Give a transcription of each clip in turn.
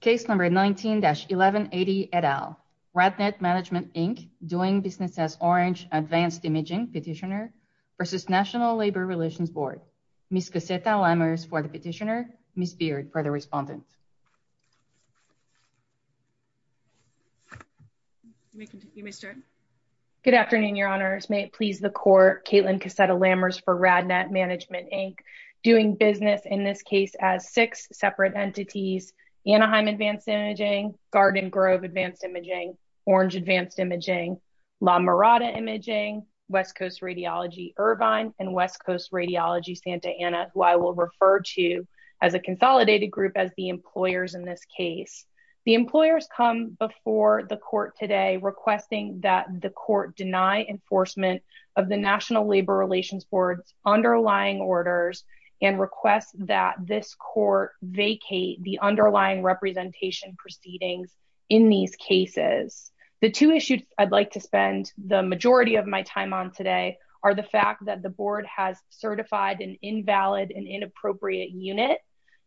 Case No. 19-1180, et al. RadNet Management, Inc. doing business as Orange Advanced Imaging Petitioner v. National Labor Relations Board Ms. Cassetta Lammers for the Petitioner, Ms. Beard for the Respondent Good afternoon, Your Honors. May it please the Court, I'm Cassetta Lammers for RadNet Management, Inc. doing business in this case as six separate entities Anaheim Advanced Imaging, Garden Grove Advanced Imaging, Orange Advanced Imaging, La Mirada Imaging, West Coast Radiology, Irvine, and West Coast Radiology, Santa Ana, who I will refer to as a consolidated group as the employers in this case. The employers come before the Court today requesting that the Court deny enforcement of the National Labor Relations Board's underlying orders and request that this Court vacate the underlying representation proceedings in these cases. The two issues I'd like to spend the majority of my time on today are the fact that the Board has certified an invalid and inappropriate unit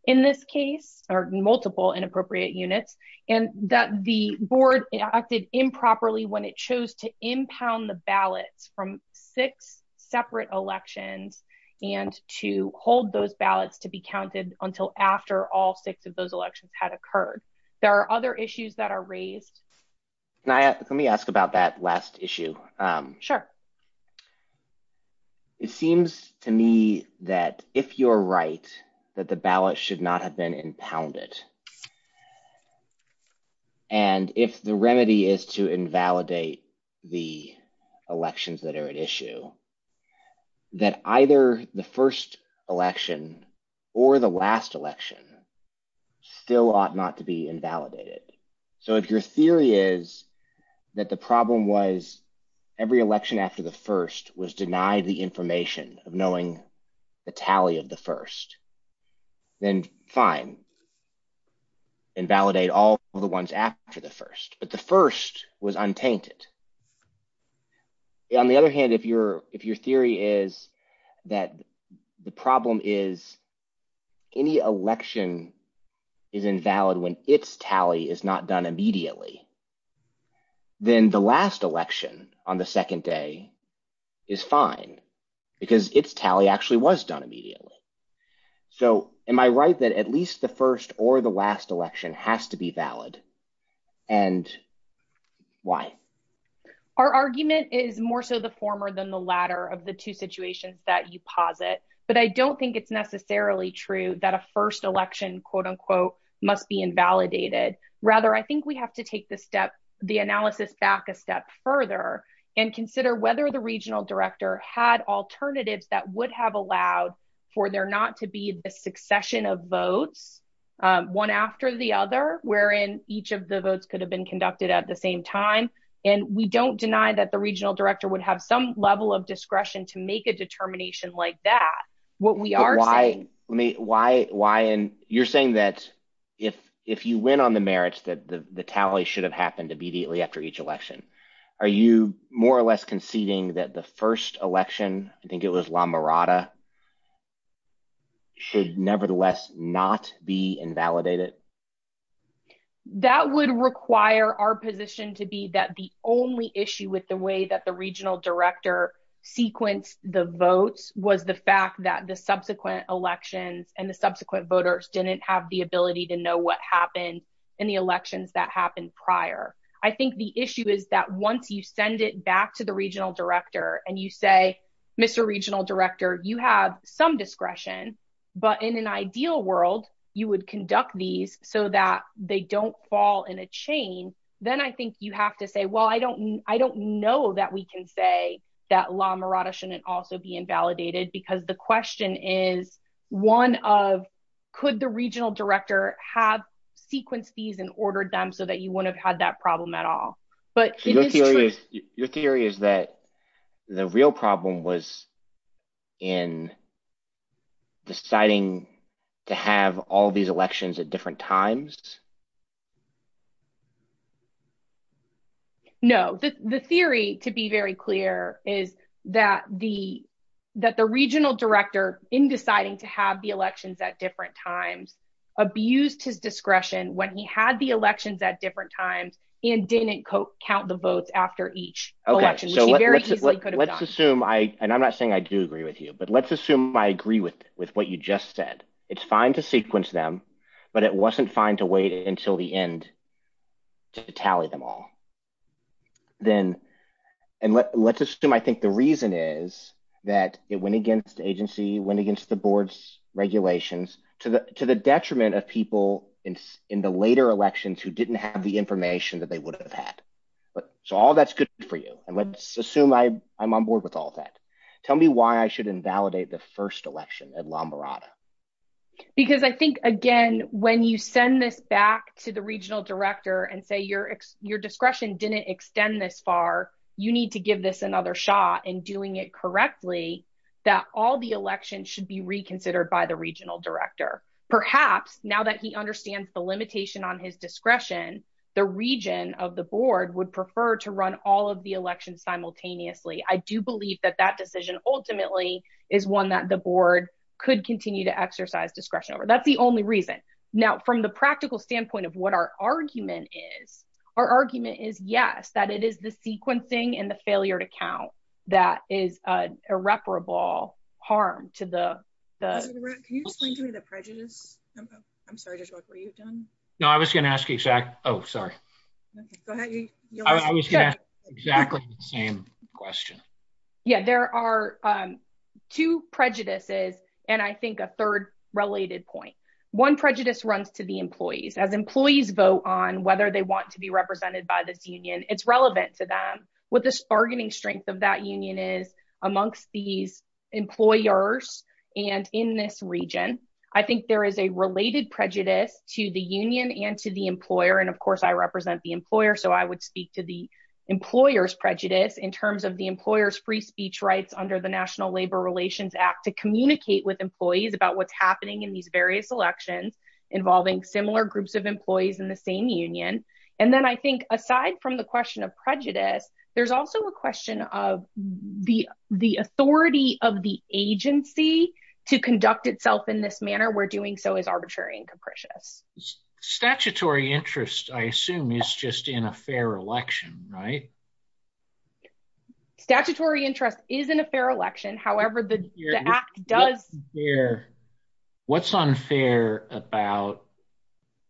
in this case, or multiple inappropriate units, and that the Board acted improperly when it chose to impound the ballots from six separate elections and to hold those ballots to be counted until after all six of those elections had occurred. There are other issues that are raised. Let me ask about that last issue. Sure. It seems to me that if you're right, that the ballot should not have been impounded. And if the remedy is to invalidate the elections that are at issue, that either the first election or the last election still ought not to be invalidated. So if your theory is that the problem was every election after the first was denied the information of knowing the tally of the first, then fine. Invalidate all the ones after the first. But the first was untainted. On the other hand, if your theory is that the problem is any election is invalid when its tally is not done immediately, then the last election on the second day is fine because its tally actually was done immediately. So am I right that at least the first or the last election has to be valid? And why? Our argument is more so the former than the latter of the two situations that you posit. But I don't think it's necessarily true that a first election, quote unquote, must be invalidated. Rather, I think we have to take the analysis back a step further and consider whether the regional director had alternatives that would have allowed for there not to be a succession of votes, one after the other, wherein each of the votes could have been conducted at the same time. And we don't deny that the regional director would have some level of discretion to make a determination like that. What we are saying. Why? You're saying that if you win on the merits, that the tally should have happened immediately after each election. Are you more or less conceding that the first election, I think it was La Mirada, should nevertheless not be invalidated? That would require our position to be that the only issue with the way that the regional director sequenced the votes was the fact that the subsequent elections and the subsequent voters didn't have the ability to know what happened in the elections that happened prior. I think the issue is that once you send it back to the regional director and you say, Mr. Regional Director, you have some discretion, but in an ideal world, you would conduct these so that they don't fall in a chain. Then I think you have to say, well, I don't, I don't know that we can say that La Mirada shouldn't also be invalidated because the question is one of, could the regional director have sequenced these and ordered them so that you wouldn't have had that problem at all? Your theory is that the real problem was in deciding to have all these elections at different times? No. The theory to be very clear is that the, that the regional director in deciding to have the elections at different times abused his discretion when he had the elections at different times and didn't count the votes after each election, which he very easily could have done. Let's assume I, and I'm not saying I do agree with you, but let's assume I agree with, with what you just said. It's fine to sequence them, but it wasn't fine to wait until the end to tally them all. Then, and let's assume, I think the reason is that it went against agency, went against the board's regulations to the, to the detriment of people in the later elections who didn't have the information that they would have had. But so all that's good for you. And let's assume I I'm on board with all that. Tell me why I should invalidate the first election at La Mirada. Because I think again, when you send this back to the regional director and say your, your discretion didn't extend this far, you need to give this another shot and doing it correctly, that all the elections should be reconsidered by the regional director. Perhaps now that he understands the limitation on his discretion, the region of the board would prefer to run all of the elections simultaneously. I do believe that that decision ultimately is one that the board could continue to exercise discretion over. That's the only reason. Now, from the practical standpoint of what our argument is, our argument is yes, that it is the sequencing and the failure to count. That is a irreparable harm to the. Can you explain to me the prejudice? I'm sorry, just what were you done? No, I was going to ask you exactly. Oh, sorry. I was going to ask exactly the same question. Yeah, there are two prejudices. And I think a third related point one prejudice runs to the employees as employees vote on whether they want to be represented by this union. It's relevant to them with this bargaining strength of that union is amongst these employers. And in this region, I think there is a related prejudice to the union and to the employer. And of course I represent the employer. So I would speak to the employer's prejudice in terms of the employer's free speech rights under the national labor relations act to communicate with employees about what's happening in these various elections involving similar groups of employees in the same union. And then I think aside from the question of prejudice, there's also a question of the, the authority of the agency to conduct itself in this manner. We're doing so as arbitrary and capricious. Statutory interest, I assume is just in a fair election, right? Statutory interest is in a fair election. However, the act does. What's unfair about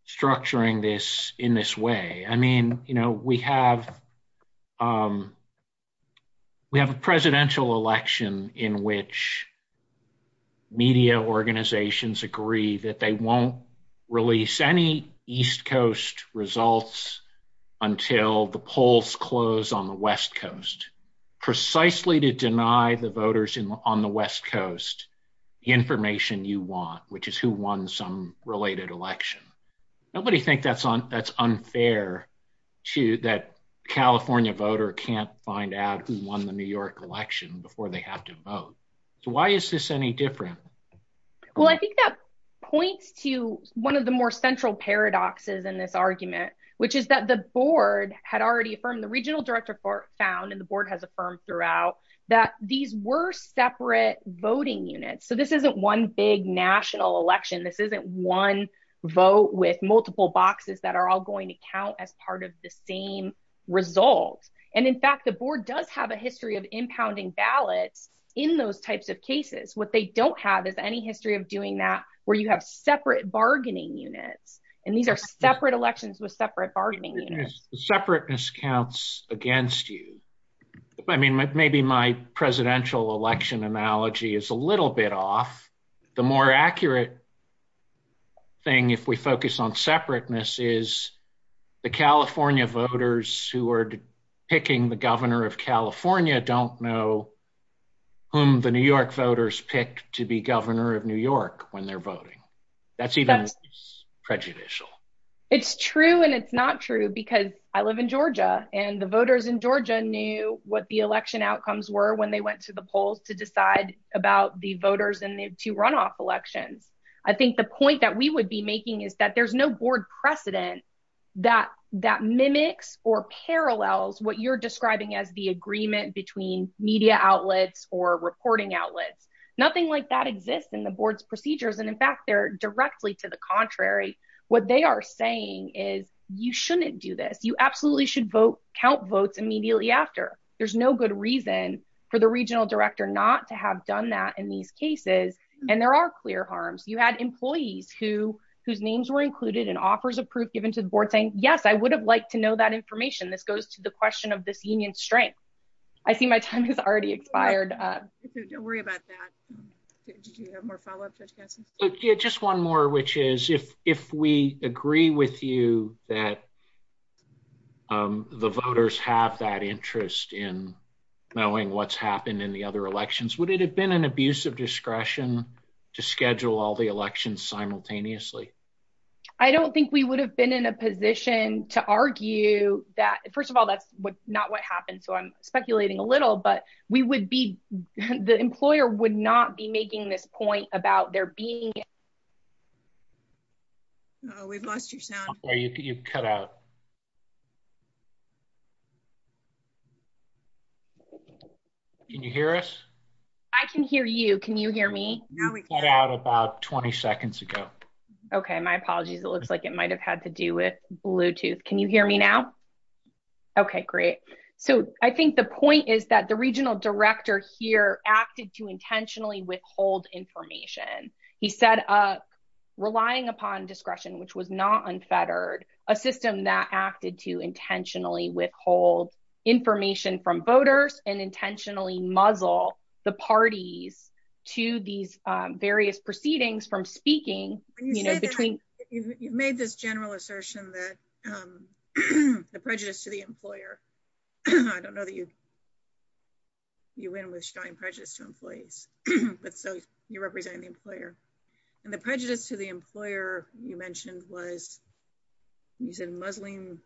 structuring this in this way. I mean, you know, we have, we have a presidential election in which media organizations agree that they won't release any East coast results until the polls close on the West coast, precisely to deny the voters in on the West coast, the information you want, which is who won some related election. Nobody thinks that's unfair to that. California voter can't find out who won the New York election before they have to vote. So why is this any different? Well, I think that points to one of the more central paradoxes in this argument, which is that the board had already affirmed the regional director for found and the board has affirmed throughout that these were separate voting units. So this isn't one big national election. This isn't one vote with multiple boxes that are all going to count as part of the same result. And in fact, the board does have a history of impounding ballots in those types of cases. What they don't have is any history of doing that where you have separate bargaining units. And these are separate elections with separate bargaining. Separateness counts against you. I mean, maybe my presidential election analogy is a little bit off. The more accurate thing. If we focus on separateness is the California voters who are picking the governor of California. California don't know whom the New York voters picked to be governor of New York when they're voting. That's even prejudicial. It's true. And it's not true because I live in Georgia and the voters in Georgia knew what the election outcomes were when they went to the polls to decide about the voters in the two runoff elections. I think the point that we would be making is that there's no board precedent that mimics or parallels what you're describing as the agreement between media outlets or reporting outlets. Nothing like that exists in the board's procedures. And in fact, they're directly to the contrary. What they are saying is you shouldn't do this. You absolutely should vote count votes immediately after. There's no good reason for the regional director not to have done that in these cases. And there are clear harms. You had employees who, whose names were included in offers of proof given to the board saying, yes, I would have liked to know that information. This goes to the question of this union strength. I see my time has already expired. Don't worry about that. Did you have more follow-up? Just one more, which is if, if we agree with you that the voters have that interest in knowing what's happened in the other elections, would it have been an abuse of discretion to schedule all the elections simultaneously? I don't think we would have been in a position to argue that first of all, that's not what happened. So I'm speculating a little, but we would be, the employer would not be making this point about there being. Oh, we've lost your sound. Oh, you cut out. Can you hear us? I can hear you. Can you hear me? About 20 seconds ago. Okay. My apologies. It looks like it might've had to do with Bluetooth. Can you hear me now? Okay, great. So I think the point is that the regional director here acted to intentionally withhold information. He said, relying upon discretion, which was not unfettered a system that acted to intentionally withhold information from voters and intentionally muzzle the parties to these various proceedings from speaking, you know, between. You've made this general assertion that the prejudice to the employer, I don't know that you, you went with Stein prejudice to employees, but so you represent the employer and the prejudice to the employer. You mentioned was using Muslim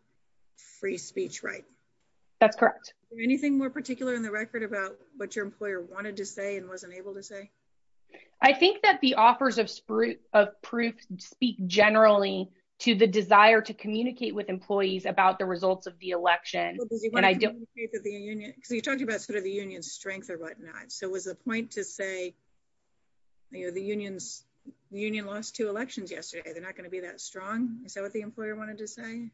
free speech, right? That's correct. Anything more particular in the record about what your employer wanted to say and wasn't able to say. I think that the offers of spru of proof speak generally to the desire to communicate with employees about the results of the election. Cause you talked about sort of the union strength or whatnot. So it was a point to say, you know, the unions, the union lost two elections yesterday. They're not going to be that strong. Is that what the employer wanted to say?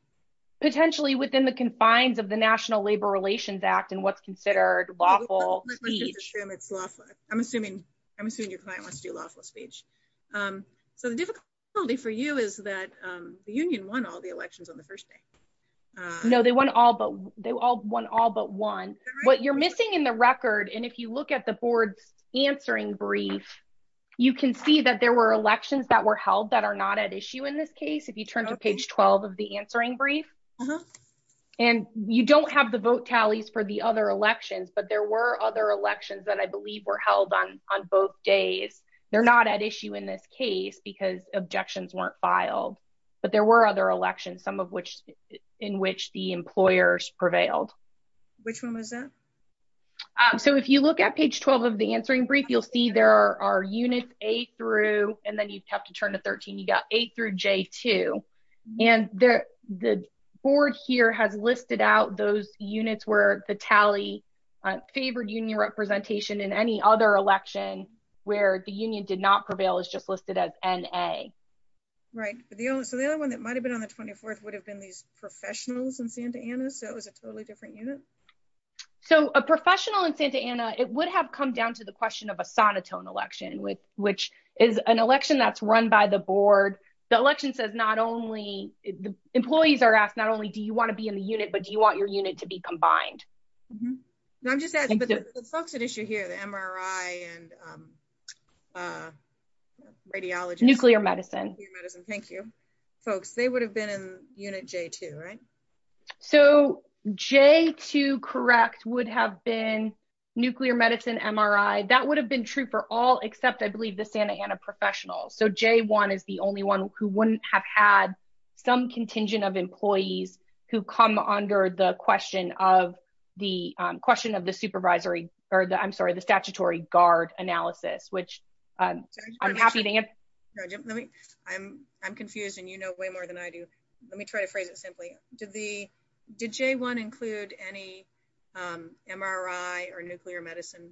Potentially within the confines of the national labor relations act and what's considered lawful. I'm assuming, I'm assuming your client wants to do lawful speech. So the difficulty for you is that the union won all the elections on the first day. No, they won all, but they all won all but one, what you're missing in the record. And if you look at the board's answering brief, you can see that there were elections that were held that are not at issue in this case. If you turn to page 12 of the answering brief, and you don't have the vote tallies for the other elections, but there were other elections that I believe were held on, on both days. They're not at issue in this case because objections weren't filed, but there were other elections, some of which in which the employers prevailed. Which one was that? So if you look at page 12 of the answering brief, you'll see there are units a through, and then you'd have to turn to 13. You got eight through J two and the board here has listed out those units where the tally favored union representation in any other election where the union did not prevail is just listed as N a. Right. But the only, so the only one that might've been on the 24th would have been these professionals in Santa Ana. So it was a totally different unit. So a professional in Santa Ana, it would have come down to the question of a sonotone election with, which is an election that's run by the board. The election says not only the employees are asked, not only do you want to be in the unit, but do you want your unit to be combined? No, I'm just asking the folks at issue here, the MRI and radiologists, nuclear medicine. Thank you folks. They would have been in unit J two, right? So J two correct would have been nuclear medicine, MRI. That would have been true for all, except I believe the Santa Ana professional. So J one is the only one who wouldn't have had some contingent of employees who come under the question of the question of the supervisory or the, I'm sorry, the statutory guard analysis, which I'm happy to hear. I'm, I'm confused and you know, way more than I do. Let me try to phrase it simply. Did the, did J one include any MRI or nuclear medicine?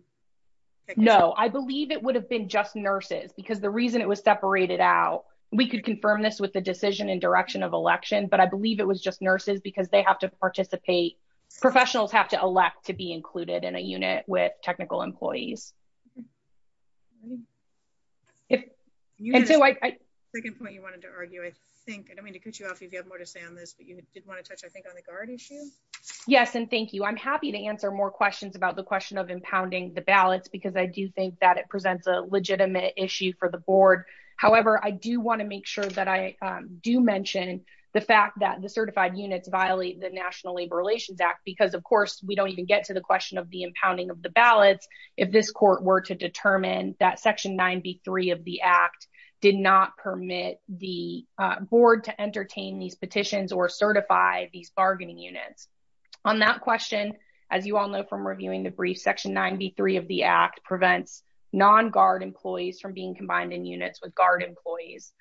No, I believe it would have been just nurses because the reason it was separated out, we could confirm this with the decision and direction of election, but I believe it was just nurses because they have to participate. Professionals have to elect to be included in a unit with technical employees. Okay. If you had a second point you wanted to argue, I think, I don't mean to cut you off if you have more to say on this, but you did want to touch, I think on the guard issue. Yes. And thank you. I'm happy to answer more questions about the question of impounding the ballots, because I do think that it presents a legitimate issue for the board. However, I do want to make sure that I do mention the fact that the certified units violate the national labor relations act, because of course, we don't even get to the question of the impounding of the ballots. If this court were to determine that section nine B three of the act did not permit the board to entertain these petitions or certify these bargaining units on that question. As you all know, from reviewing the brief section, nine B three of the act prevents non-guard employees from being combined in units with guard employees.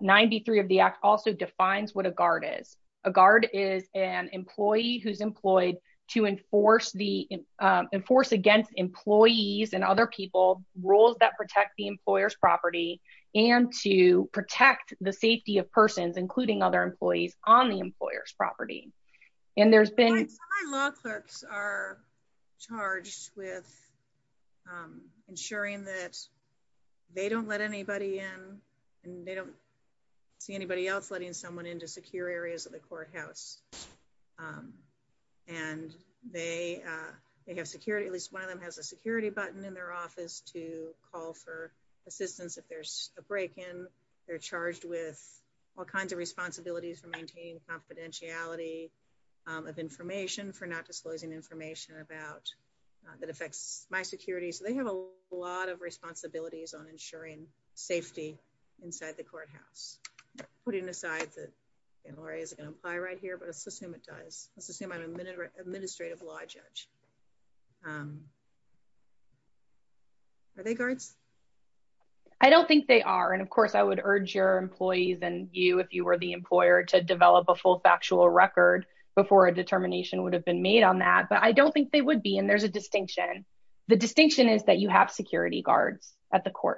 Nine B three of the act also defines what a guard is. A guard is an employee who's employed to enforce the enforce against employees and other people rules that protect the employer's property and to protect the safety of persons, including other employees on the employer's property. And there's been. Law clerks are charged with. Ensuring that. They don't let anybody in and they don't. See anybody else letting someone into secure areas of the courthouse. And they, they have security. At least one of them has a security button in their office to call for assistance. If there's a break in, they're charged with all kinds of responsibilities for maintaining confidentiality. Of information for not disclosing information about. That affects my security. So they have a lot of responsibilities on ensuring safety. Inside the courthouse. Putting aside that. Okay. Let's see. I'm going to apply right here, but let's assume it does. Let's assume I'm a minute. Administrative law judge. Are they guards? I don't think they are. And of course I would urge your employees and you, if you were the employer to develop a full factual record before a decision is made. I think it would weigh on the analysis. Because some of the. Instancy of the role of MRI technologists and nuclear medicine technologists. Yeah. Because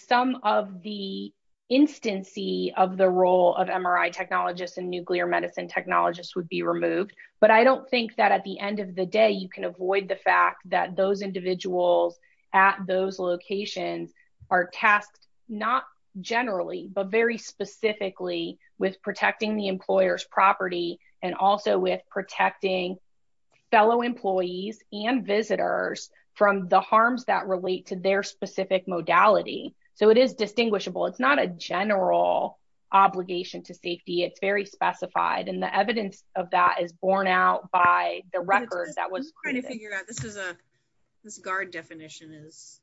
some of the. Instancy of the role of MRI technologists and nuclear medicine technologists would be removed. But I don't think that at the end of the day, you can avoid the fact that those individuals. At those locations are tasked. Not generally, but very specifically with protecting the employer's property. And also with protecting. Fellow employees and visitors. So it's not, it's not a general obligation. It's not a general obligation to protect the employees and visitors from the harms that relate to their specific modality. So it is distinguishable. It's not a general. Obligation to safety. It's very specified. And the evidence of that is borne out by the record that was. This is a. This guard definition is.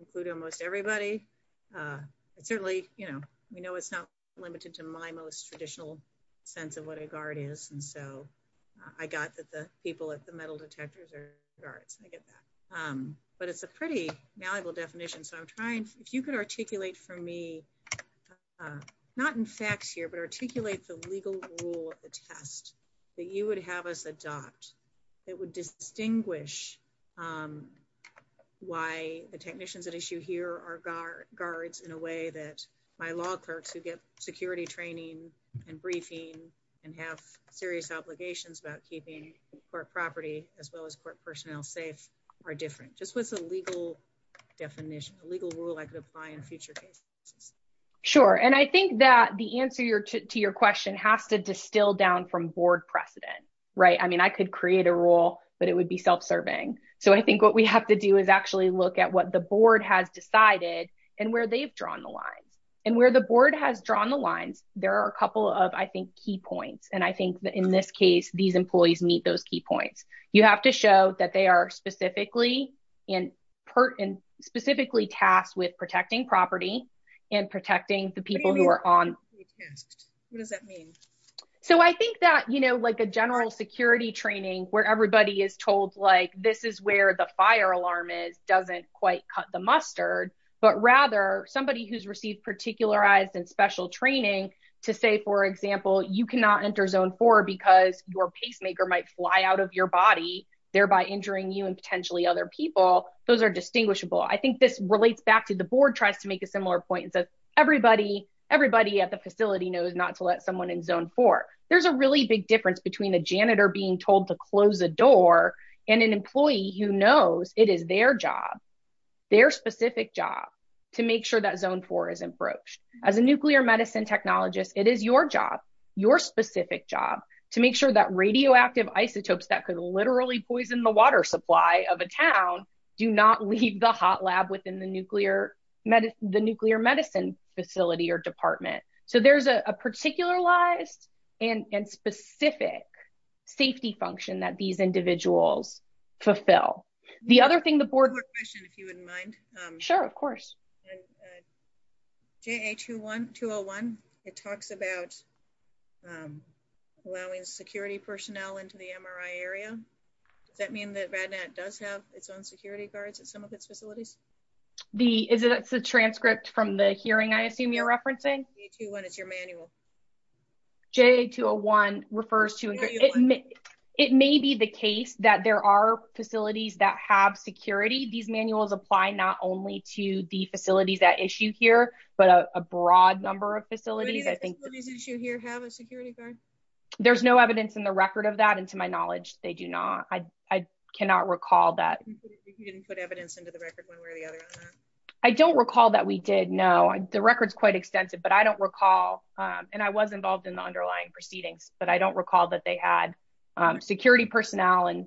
Include almost everybody. It's certainly, you know, It's not limited to my most traditional. Sense of what a guard is. And so. I got that the people at the metal detectors are guards. I get that. But it's a pretty malleable definition. So I'm trying. If you could articulate for me. Not in facts here, but articulate the legal rule of the test. That you would have us adopt. It would distinguish. Why the technicians at issue here are guard guards in a way that my law clerks who get security training and briefing. And have serious obligations about keeping court property as well as court personnel safe. Are different just with the legal. Definition of legal rule. I could apply in future cases. Sure. And I think that the answer to your question has to distill down from board precedent. Right. I mean, I could create a role, but it would be self-serving. So I think what we have to do is actually look at what the board has decided. And where they've drawn the lines and where the board has drawn the lines. There are a couple of, I think, key points. And I think that in this case, these employees meet those key points. You have to show that they are specifically. And pert and specifically tasked with protecting property. And protecting the people who are on. What does that mean? So I think that, you know, I would, I would not say that this is a bad thing. I would say that I would rather, like a general security training where everybody is told, like, this is where the fire alarm is. Doesn't quite cut the mustard, but rather somebody who's received, particularized and special training. To say, for example, you cannot enter zone four because your pacemaker might fly out of your body. body. You cannot enter zone four because your pacemaker might fly out of your body. Thereby injuring you and potentially other people. Those are distinguishable. I think this relates back to the board tries to make a similar point. And so everybody, everybody at the facility knows not to let someone in zone four. There's a really big difference between a janitor being told to close a door. And an employee who knows it is their job. Their specific job. To make sure that zone four is approached as a nuclear medicine technologist. It is your job. Your specific job to make sure that radioactive isotopes that could literally poison the water supply of a town. Do not leave the hot lab within the nuclear. The nuclear medicine facility or department. So there's a particular lies. And specific. Safety function that these individuals. Fulfill the other thing, the board. If you wouldn't mind. Sure. Of course. Okay. And. J a two one, two Oh one. It talks about. Allowing security personnel into the MRI area. Does that mean that Radnet does have its own security guards at some of its facilities? The is it. It's a transcript from the hearing. I assume you're referencing. Yeah. It's your manual. J two Oh one refers to. It may be the case that there are facilities that have security. These manuals apply not only to the facilities that issue here, but a broad number of facilities. I think. Does any of the facilities issue here have a security guard? There's no evidence in the record of that. And to my knowledge, they do not, I, I cannot recall that. You didn't put evidence into the record one way or the other. I don't recall that we did know the record's quite extensive, but I don't recall. And I was involved in the underlying proceedings, but I don't recall that they had. Security personnel and. I don't recall that there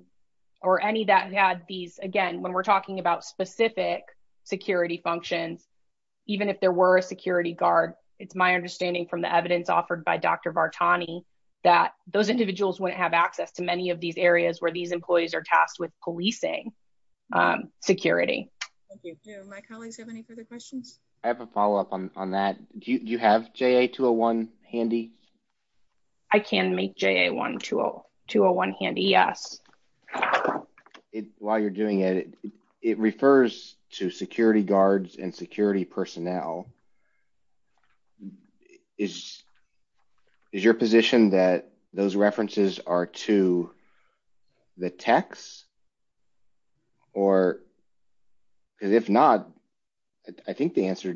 was a security person or any that had these again, when we're talking about specific. Security functions. Even if there were a security guard. It's my understanding from the evidence offered by Dr. Vartani, that those individuals wouldn't have access to many of these areas where these employees are tasked with policing security. Do my colleagues have any further questions? I have a follow-up on that. Do you have JA 2 0 1 handy? I can make JA 1 2 0 2 0 1 handy. Yes. It while you're doing it. It refers to security guards and security personnel. Is. Is your position that those references are to. The texts. Or. Cause if not. I don't think that's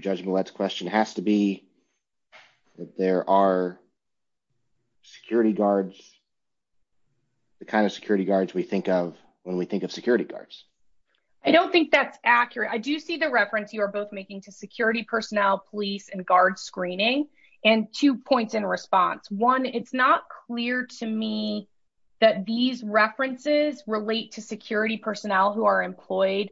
accurate. I do see the reference you are both making to security personnel, police and guard screening. And two points in response. One. It's not clear to me. That these references relate to security personnel who are employed.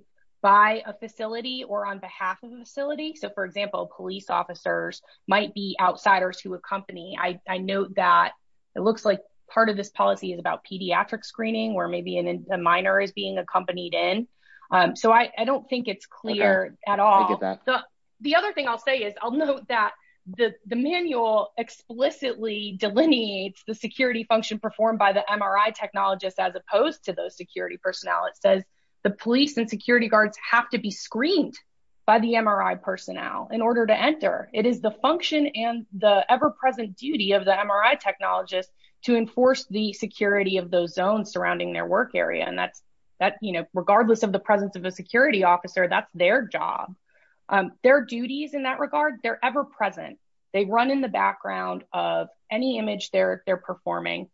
So I don't think it's clear at all. The other thing I'll say is I'll note that the manual explicitly delineates the security function performed by the MRI technologist, as opposed to those security personnel. It says the police and security personnel. It's not clear to me. It's not clear to me. That those security guards have to be screened. By the MRI personnel in order to enter. It is the function and the ever-present duty of the MRI technologist to enforce the security of those zones surrounding their work area. And that's that, you know, regardless of the presence of a security officer, that's their job. Their duties in that regard, they're ever present. They run in the background of any image they're, they're performing.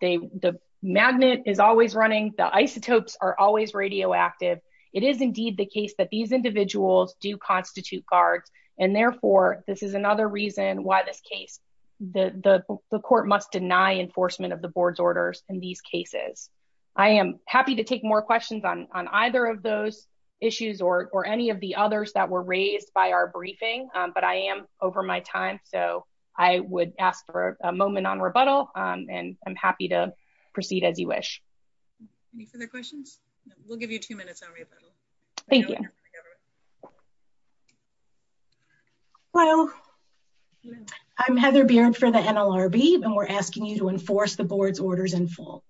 They, the magnet is always running. The isotopes are always radioactive. It is indeed the case that these individuals do constitute guards. And therefore this is another reason why this case. The, the, the court must deny enforcement of the board's orders in these cases. I am happy to take more questions on, on either of those issues or any of the others that were raised by our briefing. I'm happy to take any questions that you may have. I don't know if I'm going to be able to answer everything, but I am over my time. So. I would ask for a moment on rebuttal. And I'm happy to proceed as you wish. Any further questions. We'll give you two minutes. Thank you. I'm Heather beard for the NLRB. And we're asking you to enforce the board's orders in full.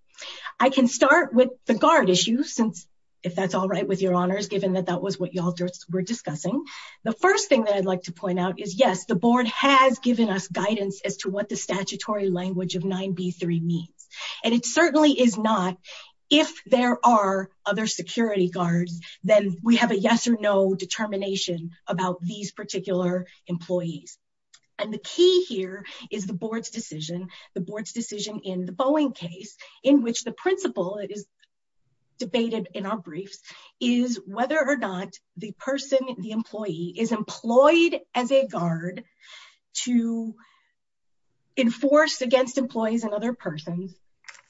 I can start with the guard issue since if that's all right with your honors, given that that was what y'all were discussing. The first thing that I'd like to point out is yes, the board has given us guidance as to what the statutory language of nine B3 means. And it certainly is not. If there are other security guards, then we have a yes or no determination about these particular employees. And the key here is the board's decision. The board's decision in the Boeing case in which the principle is. Debated in our briefs is whether or not the person, the employee is employed as a guard. To. Enforced against employees and other persons.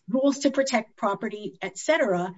Rules to protect property, et cetera.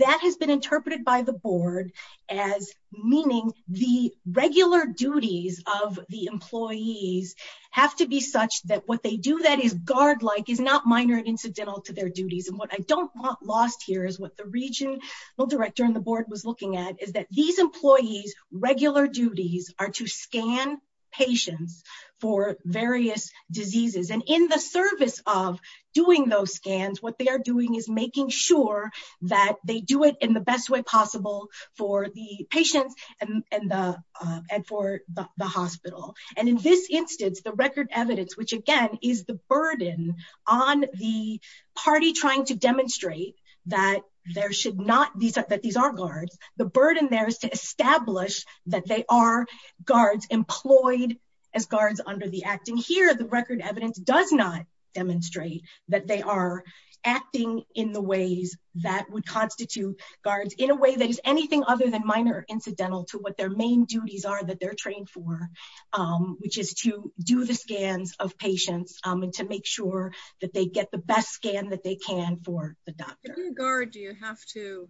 That has been interpreted by the board as meaning the regular duties of the employees have to be such that what they do, that is guard-like is not minor and incidental to their duties. And what I don't want lost here is what the region. Well, director and the board was looking at is that these employees, regular duties are to scan patients for various diseases. And in the service of doing those scans, what they are doing is making sure that they do it in the best way possible for the patients and, and the. And for the hospital. And in this instance, the record evidence, which again is the burden on the party, trying to demonstrate that there should not be that these aren't guards. The burden there is to establish that they are guards employed. As guards under the acting here, the record evidence does not demonstrate that they are acting in the ways that would constitute guards in a way that is anything other than minor incidental to what their main duties are, that they're trained for, which is to do the scans of patients and to make sure that they get the best scan that they can for the doctor. Do you have to.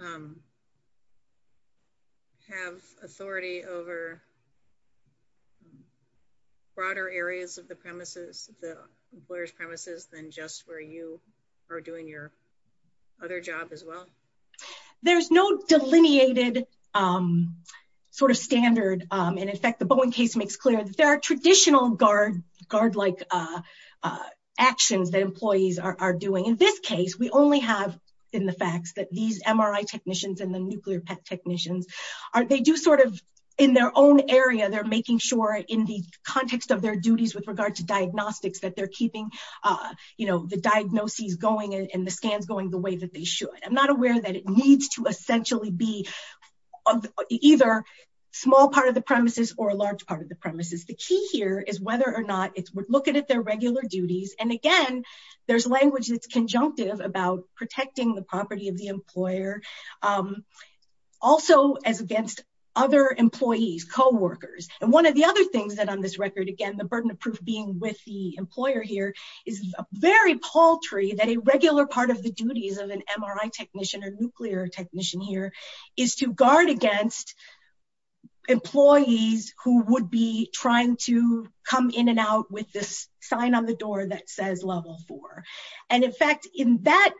Have authority over. Broader areas of the premises, the employers premises, than just where you are doing your other job as well. There's no delineated sort of standard. And in fact, the Boeing case makes clear that there are traditional guard, guard, like actions that employees are doing in this case. We only have in the facts that these MRI technicians and the nuclear pet technicians are, they do sort of in their own area. They're making sure in the context of their duties with regard to diagnostics that they're keeping, you know, the diagnoses going and the scans going the way that they should. I'm not aware that it needs to essentially be either small part of the premises or a large part of the premises. The key here is whether or not it's, we're looking at their regular duties. And again, there's language that's conjunctive about protecting the property of the employer. Also as against other employees, coworkers, and one of the other things that on this record, again, the burden of proof being with the employer here is very paltry that a regular part of the duties of an MRI technician or nuclear technician here is to guard against employees who would be trying to come in and out with this sign on the door that says level four. And in fact, in that,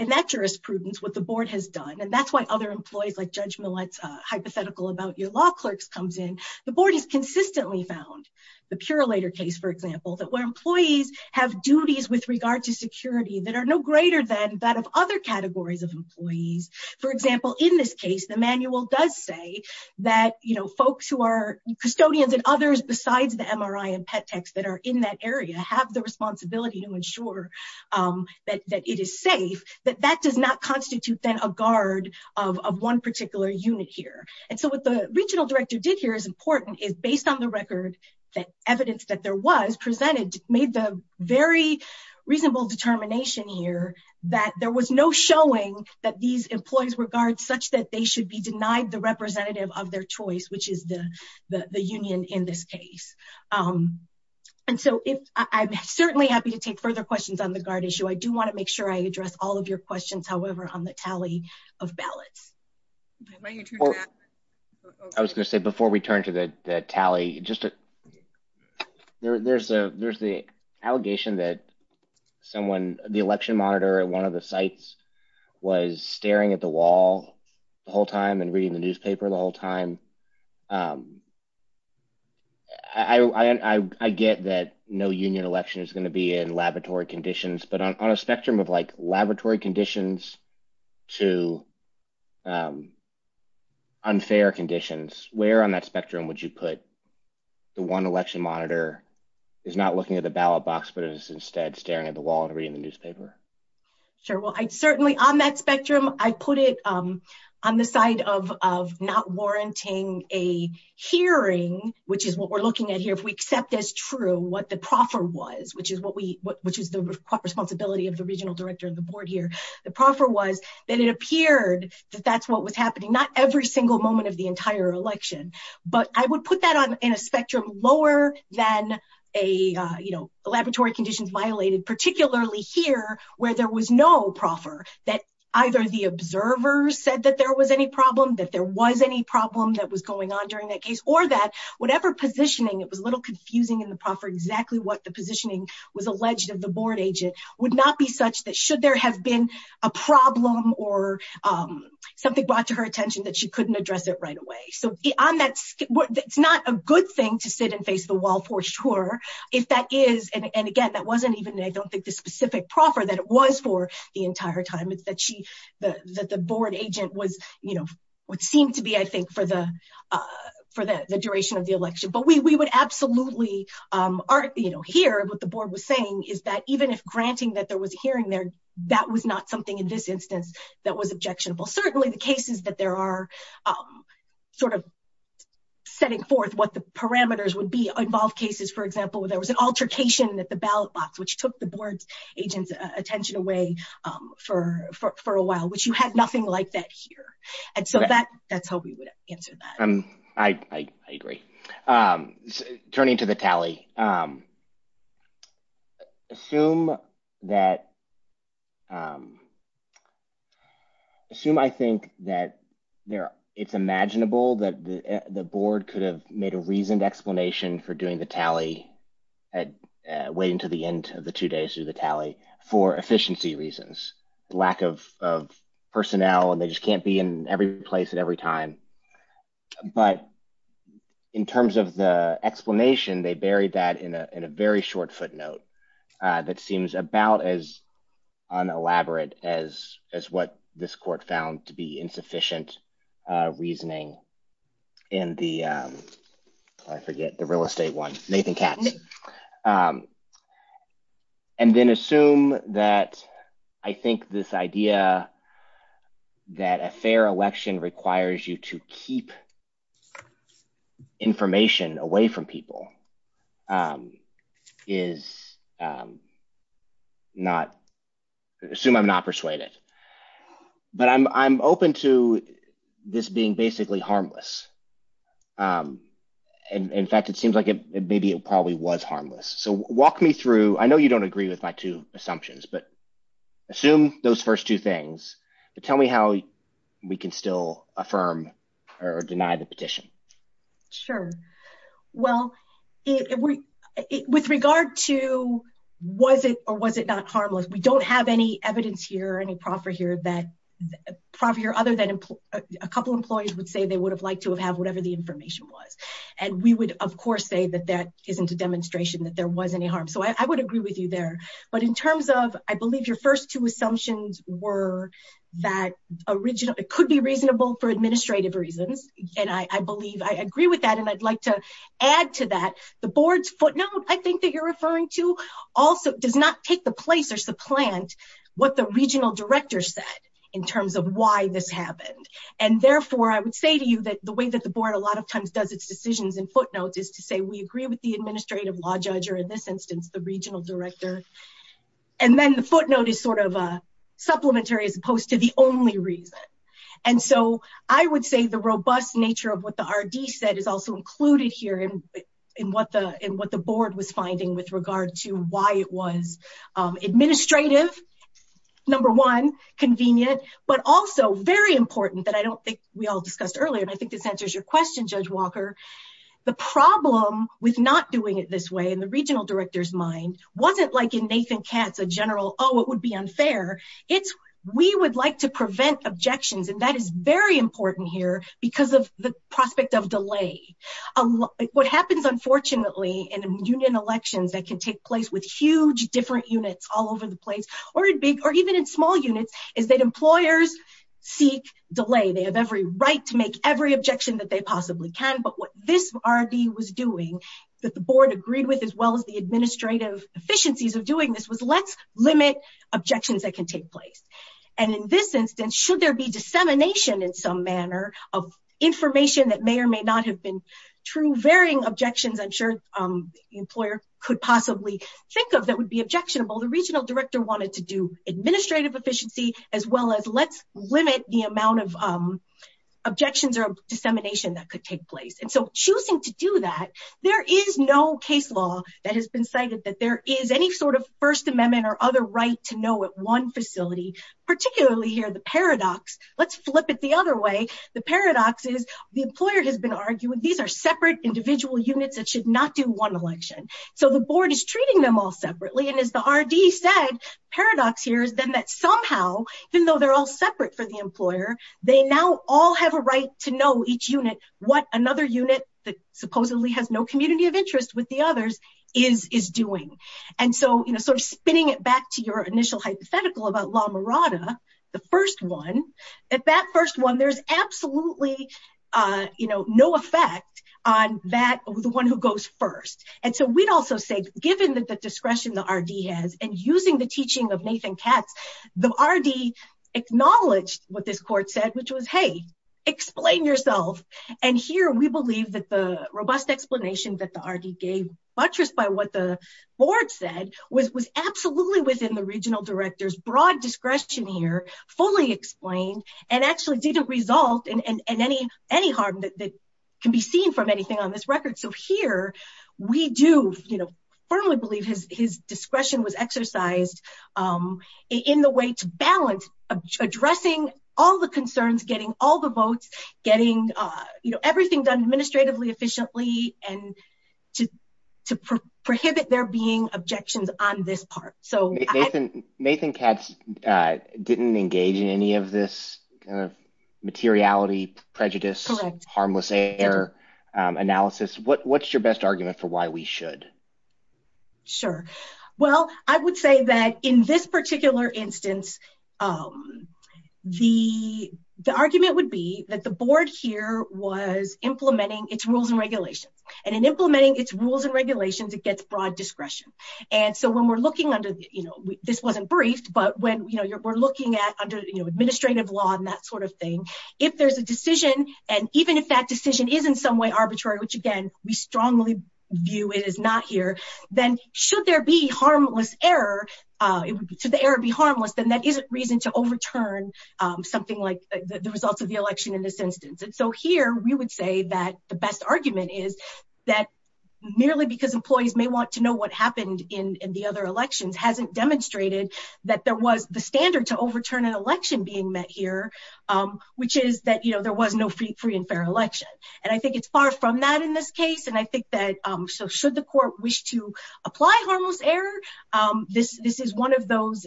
in that jurisprudence, what the board has done, and that's why other employees like judge Millett's hypothetical about your law clerks comes in, the board has consistently found the pure later case, for example, that where employees have duties with regard to security that are no greater than that of other categories of employees. For example, in this case, the manual does say that, you know, folks who are custodians and others besides the MRI and pet techs that are in that area have the responsibility to ensure that, that it is safe, that that does not constitute then a guard of one particular unit here. And so what the regional director did here is important is based on the record that evidence that there was presented made the very reasonable determination here, that there was no showing that these employees were guards such that they should be denied the representative of their choice, which is the, the union in this case. And so if I'm certainly happy to take further questions on the guard issue, I do want to make sure I address all of your questions. However, on the tally of ballots, I was going to say before we turn to the tally, just to there, there's a, there's the allegation that someone, the election monitor at one of the sites was staring at the wall the whole time and reading the newspaper the whole time. Um, I, I, I, I get that no union election is going to be in laboratory conditions, but on a spectrum of like laboratory conditions to, um, unfair conditions, where on that spectrum would you put the one election monitor is not looking at the ballot box, but it is instead staring at the wall and reading the newspaper. Sure. Well, I'd certainly on that spectrum, I put it, um, on the side of, of not warranting a hearing, which is what we're looking at here. If we accept as true, what the proffer was, which is what we, which is the responsibility of the regional director of the board here. The proffer was that it appeared that that's what was happening. Not every single moment of the entire election, but I would put that on in a spectrum lower than a, uh, you know, the laboratory conditions violated, particularly here where there was no proffer that either the observers said that there was any problem, that there was any problem that was going on during that case or that whatever positioning, it was a little confusing in the proffer exactly what the positioning was alleged of the board agent would not be such that should there have been a problem or, um, something brought to her attention that she couldn't address it right away. So on that, it's not a good thing to sit and face the wall for sure. If that is. And again, that wasn't even, I don't think the specific proffer that it was for the entire time. It's that she, the, that the board agent was, you know, what seemed to be, I think for the, uh, for the, the duration of the election, but we, we would absolutely, um, are, you know, here what the board was saying is that even if granting that there was a hearing there, that was not something in this instance that was objectionable. Certainly the cases that there are, um, Sort of setting forth what the parameters would be involved cases. For example, there was an altercation at the ballot box, which took the board's agents attention away, um, for, for, for a while, which you had nothing like that here. And so that that's how we would answer. Um, I, I, I agree. Um, turning to the tally, um, Assume that, um, Assume. I think that there it's imaginable that the, the board could have made a reasoned explanation for doing the tally at waiting to the end of the two days through the tally for efficiency reasons, lack of, of personnel, and they just can't be in every place at every time. But in terms of the explanation, they buried that in a, in a very short footnote, uh, that seems about as on elaborate as, as what this court found to be insufficient, uh, reasoning. And the, um, I forget the real estate one, Nathan Katz, um, And then assume that I think this idea. That a fair election requires you to keep Information away from people, um, is, um, Not assume I'm not persuaded, but I'm, I'm open to this being basically harmless. Um, And in fact, it seems like it, maybe it probably was harmless. So walk me through, I know you don't agree with my two assumptions, but assume those first two things, but tell me how we can still affirm or deny the petition. Sure. Well, it, we, it, with regard to was it or was it not harmless? We don't have any evidence here or any proffer here that property or other than a couple of employees would say they would have liked to have have whatever the information was. And we would of course say that that isn't a demonstration that there was any harm. So I would agree with you there, but in terms of I believe your first two assumptions were that original, it could be reasonable for administrative reasons. And I, I believe I agree with that. And I'd like to add to that. The board's footnote, I think that you're referring to also does not take the place or supplant what the regional director said in terms of why this happened. And therefore I would say to you that the way that the board a lot of times does its decisions and footnotes is to say, we agree with the administrative law judge or in this instance, the regional director. And then the footnote is sort of a supplementary as opposed to the only reason. And so I would say the robust nature of what the RD said is also included here in, in what the, in what the board was finding with regard to why it was administrative. Number one, convenient, but also very important that I don't think we all discussed earlier. And I think this answers your question, judge Walker, the problem with not doing it this way. And the regional director's mind wasn't like in Nathan Katz, a general, Oh, it would be unfair. It's, we would like to prevent objections. And that is very important here because of the prospect of delay. What happens, unfortunately, in a union elections that can take place with huge different units all over the place or in big, or even in small units is that employers seek delay. They have every right to make every objection that they possibly can. But what this RD was doing that the board agreed with, as well as the administrative efficiencies of doing this was let's limit objections that can take place. And in this instance, should there be dissemination in some manner of information that may or may not have been true varying objections. I'm sure the employer could possibly think of that would be objectionable. The regional director wanted to do administrative efficiency as well as let's limit the amount of objections or dissemination that could take place. And so choosing to do that, there is no case law that has been cited that there is any sort of first amendment or other right to know at one facility, particularly here, the paradox let's flip it the other way. The paradox is the employer has been arguing. These are separate individual units that should not do one election. So the board is treating them all separately. And as the RD said, paradox here is then that somehow, even though they're all separate for the employer, they now all have a right to know each unit, what another unit that supposedly has no community of interest with the others is doing. And so, you know, sort of spinning it back to your initial hypothetical about La Mirada, the first one at that first one, there's absolutely, you know, no effect on that, the one who goes first. And so we'd also say given that the discretion, the RD has and using the teaching of Nathan Katz, the RD acknowledged what this court said, which was, Hey, explain yourself. And here we believe that the robust explanation that the RD gave buttressed by what the board said was, was absolutely within the regional director's broad discretion here, fully explained and actually didn't result in any, any harm that can be seen from anything on this record. So here we do, you know, firmly believe his, his discretion was exercised. In the way to balance addressing all the concerns, getting all the votes, getting, you know, everything done administratively, efficiently, and to prohibit there being objections on this part. So Nathan Katz didn't engage in any of this kind of materiality, prejudice, harmless air analysis. What, what's your best argument for why we should. Sure. Well, I would say that in this particular instance, the, the argument would be that the board here was implementing its rules and regulations and in implementing its rules and regulations, it gets broad discretion. And so when we're looking under, you know, this wasn't briefed, but when, you know, you're, we're looking at under, you know, administrative law and that sort of thing, if there's a decision and even if that decision is in some way arbitrary, which again, we strongly view it as not here, then should there be harmless error to the error, be harmless. Then that isn't reason to overturn something like the results of the election in this instance. And so here we would say that the best argument is that nearly because employees may want to know what happened in the other elections, hasn't demonstrated that there was the standard to overturn an election being met here, which is that, you know, there was no free, free and fair election. And I think it's far from that in this case. And I think that so should the court wish to apply harmless error this, this is one of those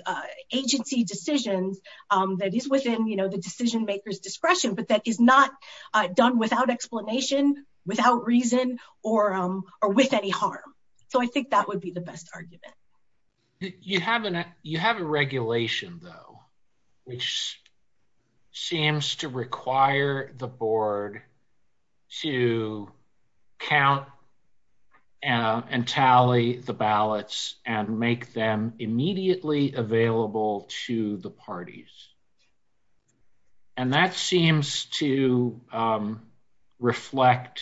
agency decisions that is within, you know, the decision makers discretion, but that is not done without explanation, without reason or or with any harm. So I think that would be the best argument. You have an, you have a regulation though, which seems to require the board to count and tally the ballots and make them immediately available to the parties. And that seems to reflect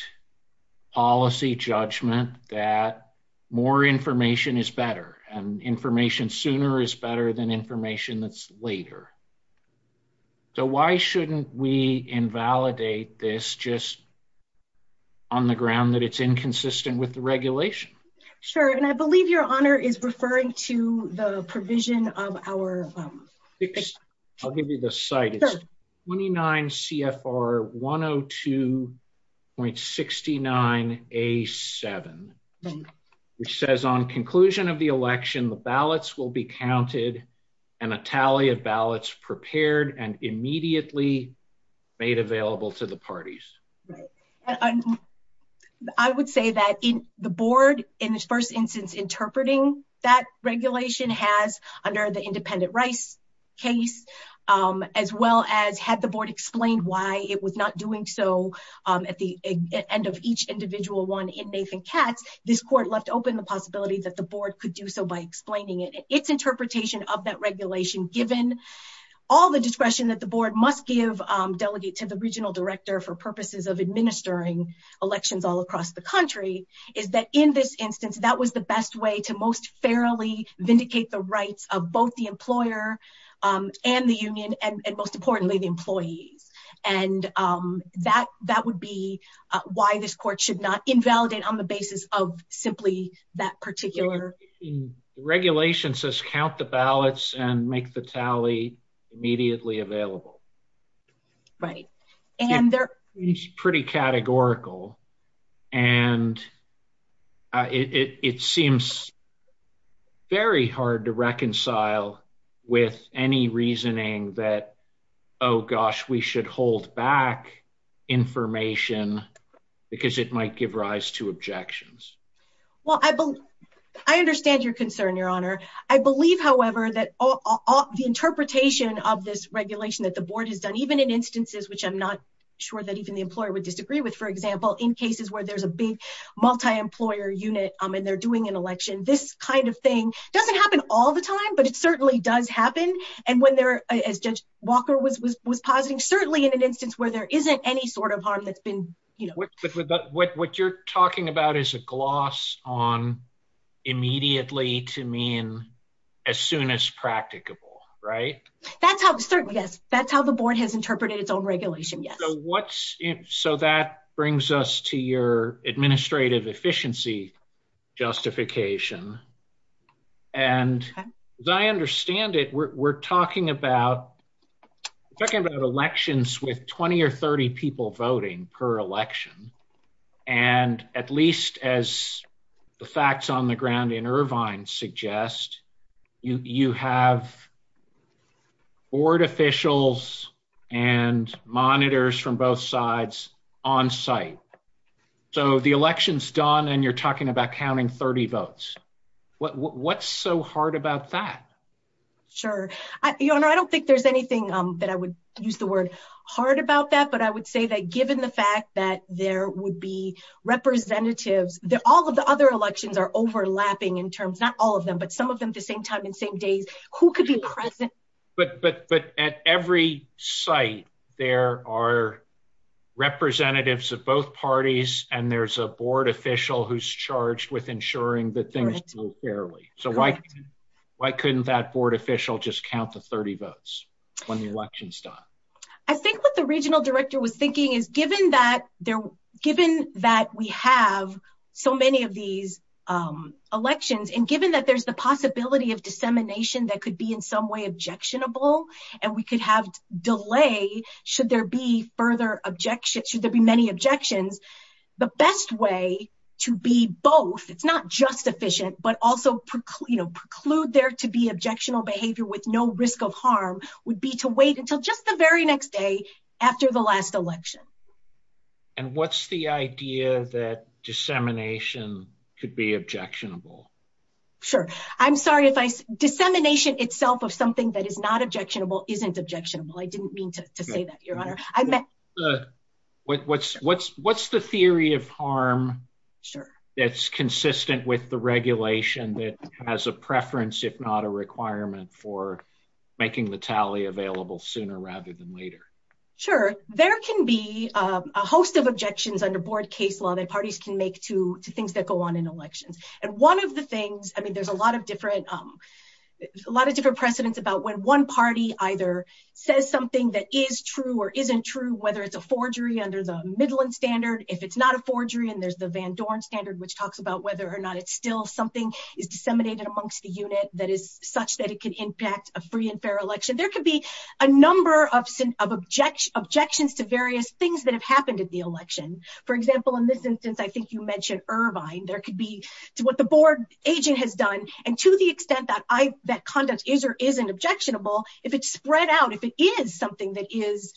policy judgment that more information is better and information sooner is better than information that's later. So why shouldn't we invalidate this just on the ground that it's inconsistent with the regulation? Sure. And I believe your honor is referring to the provision of our, I'll give you the site. It's 29 CFR 102.69 a seven, which says on conclusion of the election, the ballots will be counted and a tally of ballots prepared and immediately made available to the parties. I would say that in the board, in this first instance, interpreting that regulation has under the independent rice case, as well as had the board explained why it was not doing so at the end of each individual one in Nathan cats, this court left open the possibility that the board could do so by explaining it. It's interpretation of that regulation, given all the discretion that the board must give delegate to the regional director for purposes of administering elections all across the country is that in this instance, that was the best way to most fairly vindicate the rights of both the members of the union and most importantly, the employees. And that, that would be why this court should not invalidate on the basis of simply that particular. Regulation says, count the ballots and make the tally immediately available. Right. And they're pretty categorical and it seems very hard to reconcile with any reasoning that, Oh gosh, we should hold back information because it might give rise to objections. Well, I, I understand your concern, your honor. I believe, however, that all the interpretation of this regulation that the board has done, even in instances, which I'm not sure that even the employer would disagree with, for example, in cases where there's a big multi-employer unit and they're doing an election, this kind of thing doesn't happen all the time, but it certainly does happen. And when they're as judge Walker was, was, was positing, certainly in an instance where there isn't any sort of harm that's been, you know, What you're talking about is a gloss on immediately to mean as soon as practicable, right? That's how certainly, yes. That's how the board has interpreted its own regulation. Yes. So that brings us to your administrative efficiency justification. So I'm going to ask you a question. And as I understand it, we're, we're talking about. Talking about elections with 20 or 30 people voting per election. And at least as. The facts on the ground in Irvine suggest. You, you have. Board officials and monitors from both sides on site. So the election's done and you're talking about counting 30 votes. What what's so hard about that? Sure. I don't think there's anything that I would use the word hard about that, but I would say that given the fact that there would be representatives, all of the other elections are overlapping in terms, not all of them, but some of them at the same time and same days, who could be present. But, but, but at every site, there are. Representatives of both parties. And there's a board official who's charged with ensuring that things go fairly. So why. Why couldn't that board official just count the 30 votes. When the election's done. I think what the regional director was thinking is given that they're given that we have so many of these. Elections. And given that there's the possibility of dissemination that could be in some way objectionable and we could have delay. Should there be further objections? Should there be many objections? The best way to be both. It's not just efficient, but also. You know, preclude there to be objectionable behavior with no risk of harm would be to wait until just the very next day. After the last election. And what's the idea that dissemination could be objectionable. Sure. I'm sorry if I dissemination itself of something that is not objectionable isn't objectionable. I didn't mean to say that your honor. What's what's what's the theory of harm. Sure. That's consistent with the regulation that has a preference, if not a requirement for making the tally available sooner rather than later. Sure. There can be a host of objections under board case law that parties can make to two things that go on in elections. And one of the things, I mean, there's a lot of different. A lot of different precedents about when one party either says something that is true or isn't true, whether it's a forgery under the Midland standard, if it's not a forgery, and there's the Van Dorn standard, which talks about whether or not it's still something is disseminated amongst the unit that is such that it could impact a free and fair election. There could be a number of objections to various things that have happened at the election. For example, in this instance, I think you mentioned Irvine. There could be to what the board agent has done. And to the extent that I, that conduct is, or isn't objectionable, if it's spread out, if it is something that is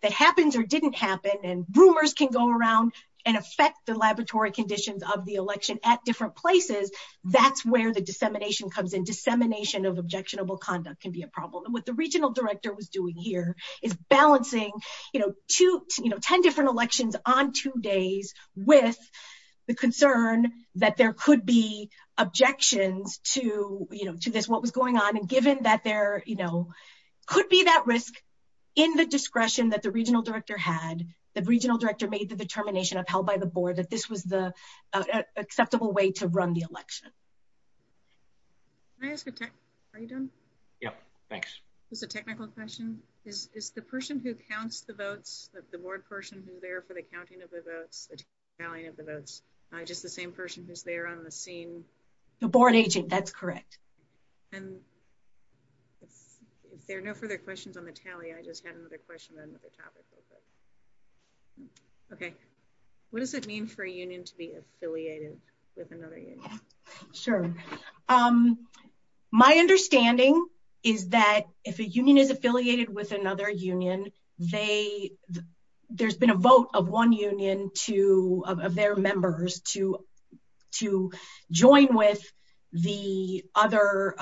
that happens or didn't happen and rumors can go around and affect the laboratory conditions of the election at different places. That's where the dissemination comes in dissemination of objectionable conduct can be a problem. And what the regional director was doing here is balancing, you know, two, you know, 10 different elections on two days with the concern that there could be objections to, you know, to this, what was going on. And given that there, you know, could be that risk in the discretion that the regional director had, the regional director made the determination of held by the board, that this was the acceptable way to run the election. Can I ask a tech? Are you done? Yep. Thanks. It's a technical question is, is the person who counts the votes, the board person who's there for the counting of the votes, the tallying of the votes, just the same person who's there on the scene. The board agent. That's correct. And if there are no further questions on the tally, I just had another question on the topic. Okay. What does it mean for a union to be affiliated with another union? Sure. My understanding is that if a union is affiliated with another union, they there's been a vote of one union to, of, of their members to, to join with the other,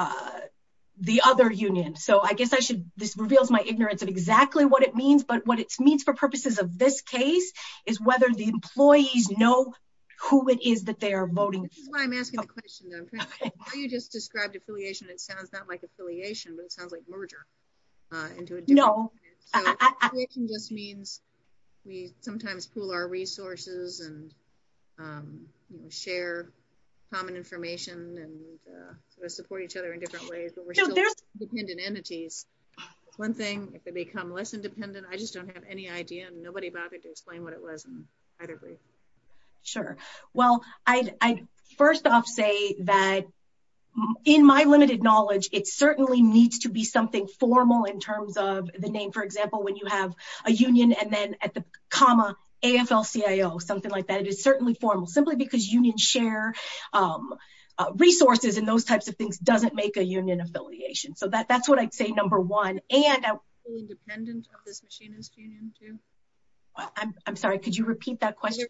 the other union. So I guess I should, this reveals my ignorance of exactly what it means, but what it means for purposes of this case is whether the employees know who it is that they are voting. I'm asking the question. You just described affiliation. It sounds not like affiliation, but it sounds like merger. No. Just means we sometimes pool our resources and. Share common information and support each other in different ways, but we're still dependent entities. One thing, if they become less independent, I just don't have any idea and nobody bothered to explain what it was. I agree. Sure. Well, I, I, first off say that. In my limited knowledge, it certainly needs to be something formal in terms of the name. For example, when you have a union and then at the comma, AFL-CIO, something like that, it is certainly formal simply because union share. Resources and those types of things doesn't make a union affiliation. So that that's what I'd say. Number one, and. Independent of this machinist union too. I'm sorry. Could you repeat that question?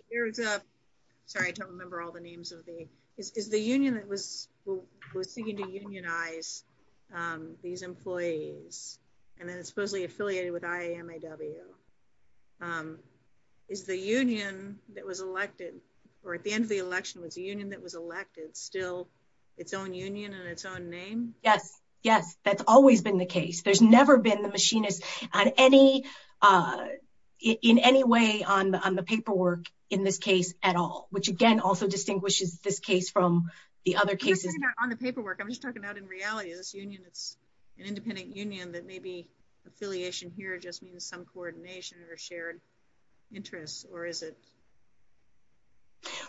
Sorry. I don't remember all the names of the, is, is the union that was was seeking to unionize these employees. And then it's supposedly affiliated with IAMAW. Is the union that was elected or at the end of the election was a union that was elected still its own union and its own name. Yes. Yes. That's always been the case. There's never been the machinist on any. In any way on the, on the paperwork in this case at all, which again, also distinguishes this case from the other cases on the paperwork. I'm just talking about in reality, this union, it's an independent union. That may be affiliation here. It just means some coordination or shared interests or is it.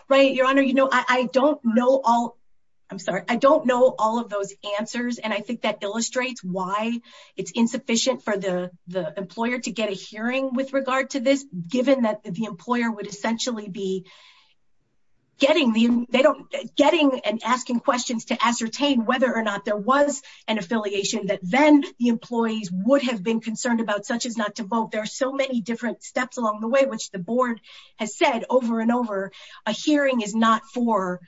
Right. Your honor, you know, I don't know all. I'm sorry. I don't know all of those answers. And I think that illustrates why it's insufficient for the, the employer to get a hearing with regard to this, given that the employer would essentially be getting the, they don't getting and asking questions to ascertain whether or not there was an affiliation that then the employees would have been concerned about such as not to vote. There are so many different steps along the way, which the board has said over and over a hearing is not for,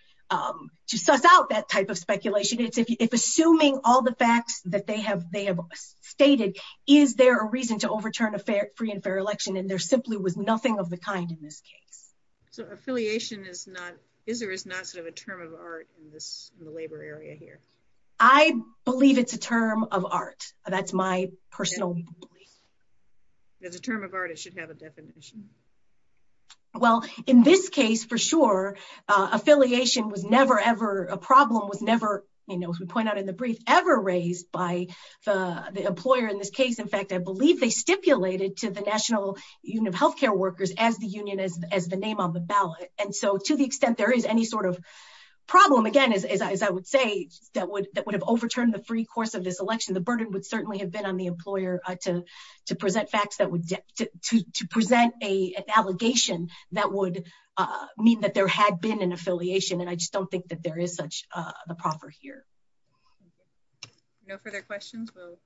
to suss out that type of speculation. It's if, if assuming all the facts that they have, they have stated, is there a reason to overturn a fair free and fair election? And there simply was nothing of the kind in this case. So affiliation is not, is there is not sort of a term of art in this labor area here. I believe it's a term of art. That's my personal belief. There's a term of art. It should have a definition. Well, in this case, for sure, affiliation was never, ever a problem was never, you know, the employer in this case, in fact, I believe they stipulated to the national union of healthcare workers as the union is as the name on the ballot. And so to the extent, there is any sort of problem again, as I, as I would say, that would, that would have overturned the free course of this election. The burden would certainly have been on the employer to, to present facts that would to present a, an allegation that would mean that there had been an affiliation. And I just don't think that there is such a proper here. Thank you. No further questions. We'll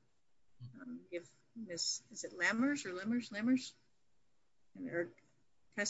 give this. Is it lammers or lemurs lemurs? Or. My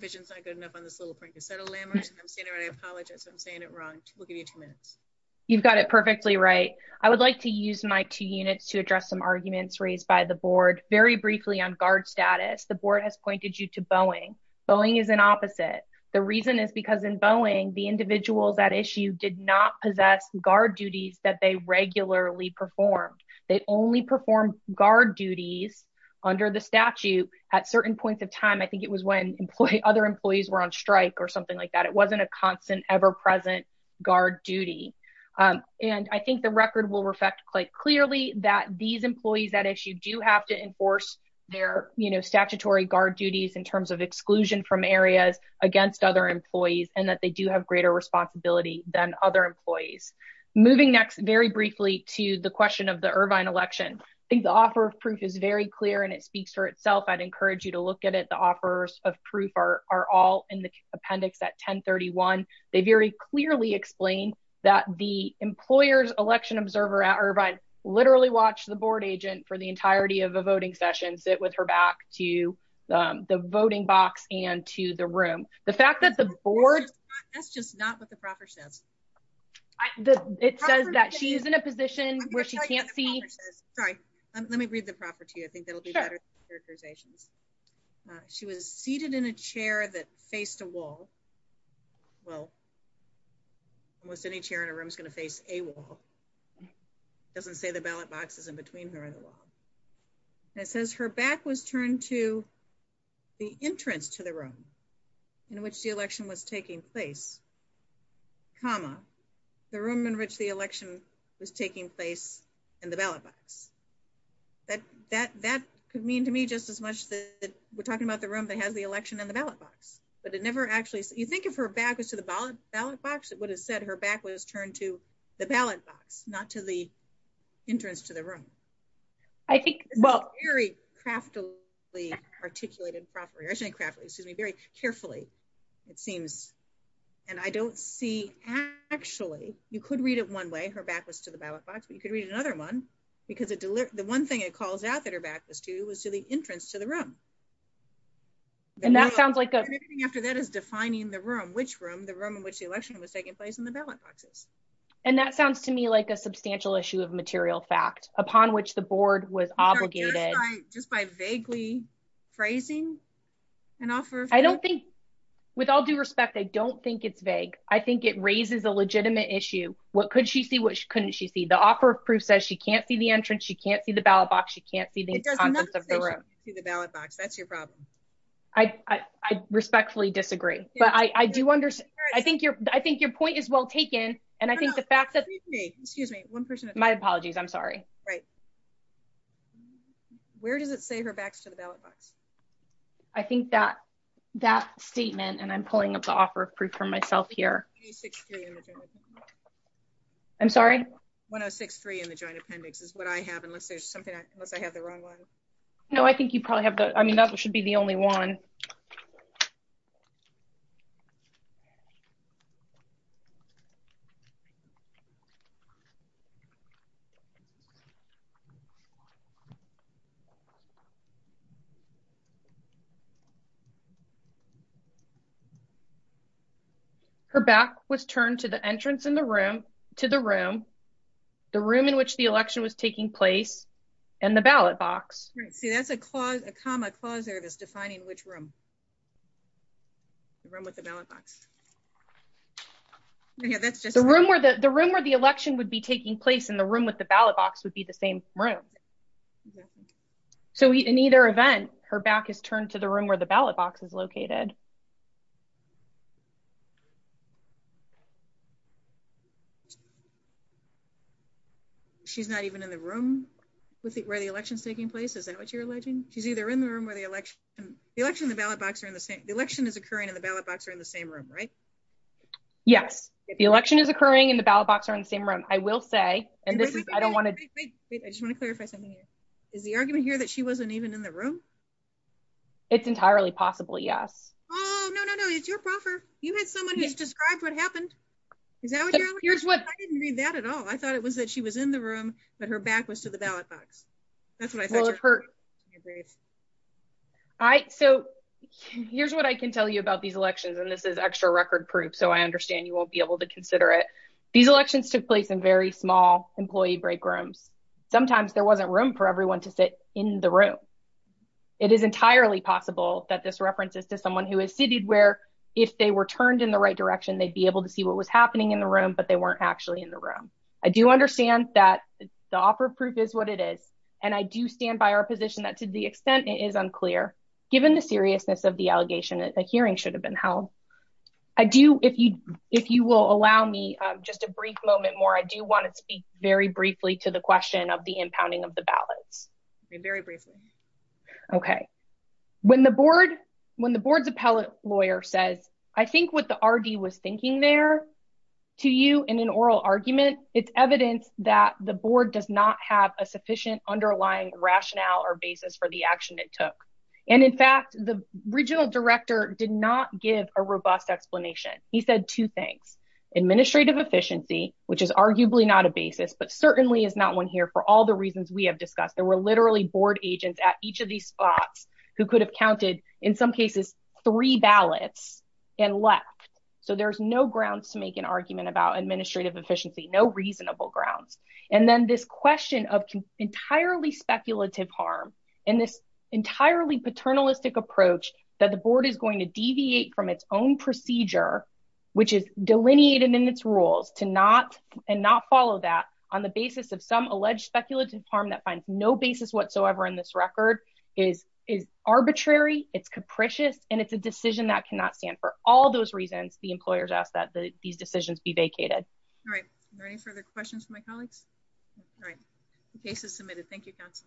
vision's not good enough on this little prank. I'm saying it right. I apologize. I'm saying it wrong. We'll give you two minutes. You've got it perfectly right. I would like to use my two units to address some arguments raised by the board very briefly on guard status. The board has pointed you to Boeing. Boeing is an opposite. The reason is because in Boeing, the individuals that issue did not possess guard duties that they regularly performed. They only perform guard duties under the statute at certain points of time. I think it was when employee, other employees were on strike or something like that. It wasn't a constant ever present guard duty. And I think the record will reflect quite clearly that these employees that issue do have to enforce their statutory guard duties in terms of Guard duty. The board has a greater responsibility than other employees. Moving next very briefly to the question of the Irvine election. I think the offer of proof is very clear and it speaks for itself. I'd encourage you to look at it. The offers of proof are, are all in the appendix at 10 31. They very clearly explained. That the employer's election observer at Irvine. Is a person who is in a position where she can literally watch the board agent for the entirety of a voting session, sit with her back to the voting box and to the room. The fact that the board. That's just not what the proper says. It says that she's in a position where she can't see. Sorry, let me read the property. I think that'll be better. Characterizations. She was seated in a chair that faced a wall. Well, It says that she was turned to the entrance to the room. Almost any chair in a room is going to face a wall. It doesn't say the ballot boxes in between her and the wall. And it says her back was turned to. The entrance to the room. In which the election was taking place. Comma. The room in which the election was taking place in the ballot box. It says that she was turned to the ballot box. That, that, that could mean to me just as much. We're talking about the room that has the election and the ballot box, but it never actually. You think of her back was to the ballot ballot box. It would have said her back was turned to the ballot box, not to the. Entrance to the room. I think. Craftily. Articulated property. Excuse me very carefully. It seems. I don't know. I don't know what that means. And I don't see. Actually, you could read it one way. Her back was to the ballot box, but you could read another one. Because the one thing it calls out that her back was to, was to the entrance to the room. And that sounds like. After that is defining the room, which room, the room in which the election was taking place in the ballot boxes. And that sounds to me like a substantial issue of material fact, but I don't think it's a substantial issue of material fact. I think it raises a legitimate issue. Upon which the board was obligated. Just by vaguely. Phrasing. And offer. I don't think. With all due respect, I don't think it's vague. I think it raises a legitimate issue. What could she see? What couldn't she see? The offer of proof says she can't see the entrance. She can't see the ballot box. She can't see the. To the ballot box. That's your problem. I respectfully disagree. But I do understand. I think you're, I think your point is well taken. And I think the fact that. Excuse me, one person. My apologies. I'm sorry. Right. Where does it say her backs to the ballot box? I think that. That statement and I'm pulling up the offer of proof for myself here. I'm sorry. One Oh six, three in the joint appendix is what I have. Unless there's something. Unless I have the wrong one. Okay. No, I think you probably have the, I mean, that should be the only one. Her back was turned to the entrance in the room to the room. The room in which the election was taking place. And the ballot box. Right. See, that's a clause, a comma. Clause there that's defining which room. The room with the ballot box. Yeah, that's just the room where the, the room where the election would be taking place in the room with the ballot box would be the same room. So in either event, her back is turned to the room where the ballot box is located. She's not even in the room. With where the election's taking place. Is that what you're alleging? She's either in the room where the election. The election, the ballot box are in the same. The election is occurring in the ballot box or in the same room, right? Yes. The election is occurring in the ballot box or in the same room. I will say, and this is, I don't want to. I don't want to. I just want to clarify something here. Is the argument here that she wasn't even in the room? It's entirely possible. Yes. Oh, no, no, no. It's your proper. You had someone who's described what happened. Is that what you're. I didn't read that at all. I thought it was that she was in the room, but her back was to the ballot box. That's what I thought. All right. So. So here's what I can tell you about these elections. And this is extra record proof. So I understand you won't be able to consider it. These elections took place in very small employee break rooms. Sometimes there wasn't room for everyone to sit in the room. It is entirely possible that this references to someone who has seated where if they were turned in the right direction, they'd be able to see what was happening in the room, but they weren't actually in the room. I do understand that. The offer of proof is what it is. And I do stand by our position that to the extent it is unclear. Given the seriousness of the allegation that the hearing should have been held. I do. If you, if you will allow me just a brief moment more, I do want to speak very briefly to the question of the impounding of the ballots. Very briefly. Okay. When the board, when the board's appellate lawyer says, I think what the RD was thinking there. I think that's the point of the board's appellate lawyer. I think that's the point of the board's appellate lawyer. I don't want to get into any more detail. But I do want to make it very clear to you in an oral argument, it's evidence that the board does not have a sufficient underlying rationale or basis for the action it took. And in fact, the regional director did not give a robust explanation. He said two things. Administrative efficiency, which is arguably not a basis, but certainly is not one here for all the reasons we have discussed. There were literally board agents at each of these spots who could have counted in some cases, three ballots. And left. So there's no grounds to make an argument about administrative efficiency, no reasonable grounds. And then this question of entirely speculative harm. And this entirely paternalistic approach that the board is going to deviate from its own procedure, which is delineated in its rules to not and not follow that on the It's a decision that cannot stand for all those reasons. There's no basis whatsoever in this record is, is arbitrary. It's capricious. And it's a decision that cannot stand for all those reasons. The employers ask that these decisions be vacated. All right.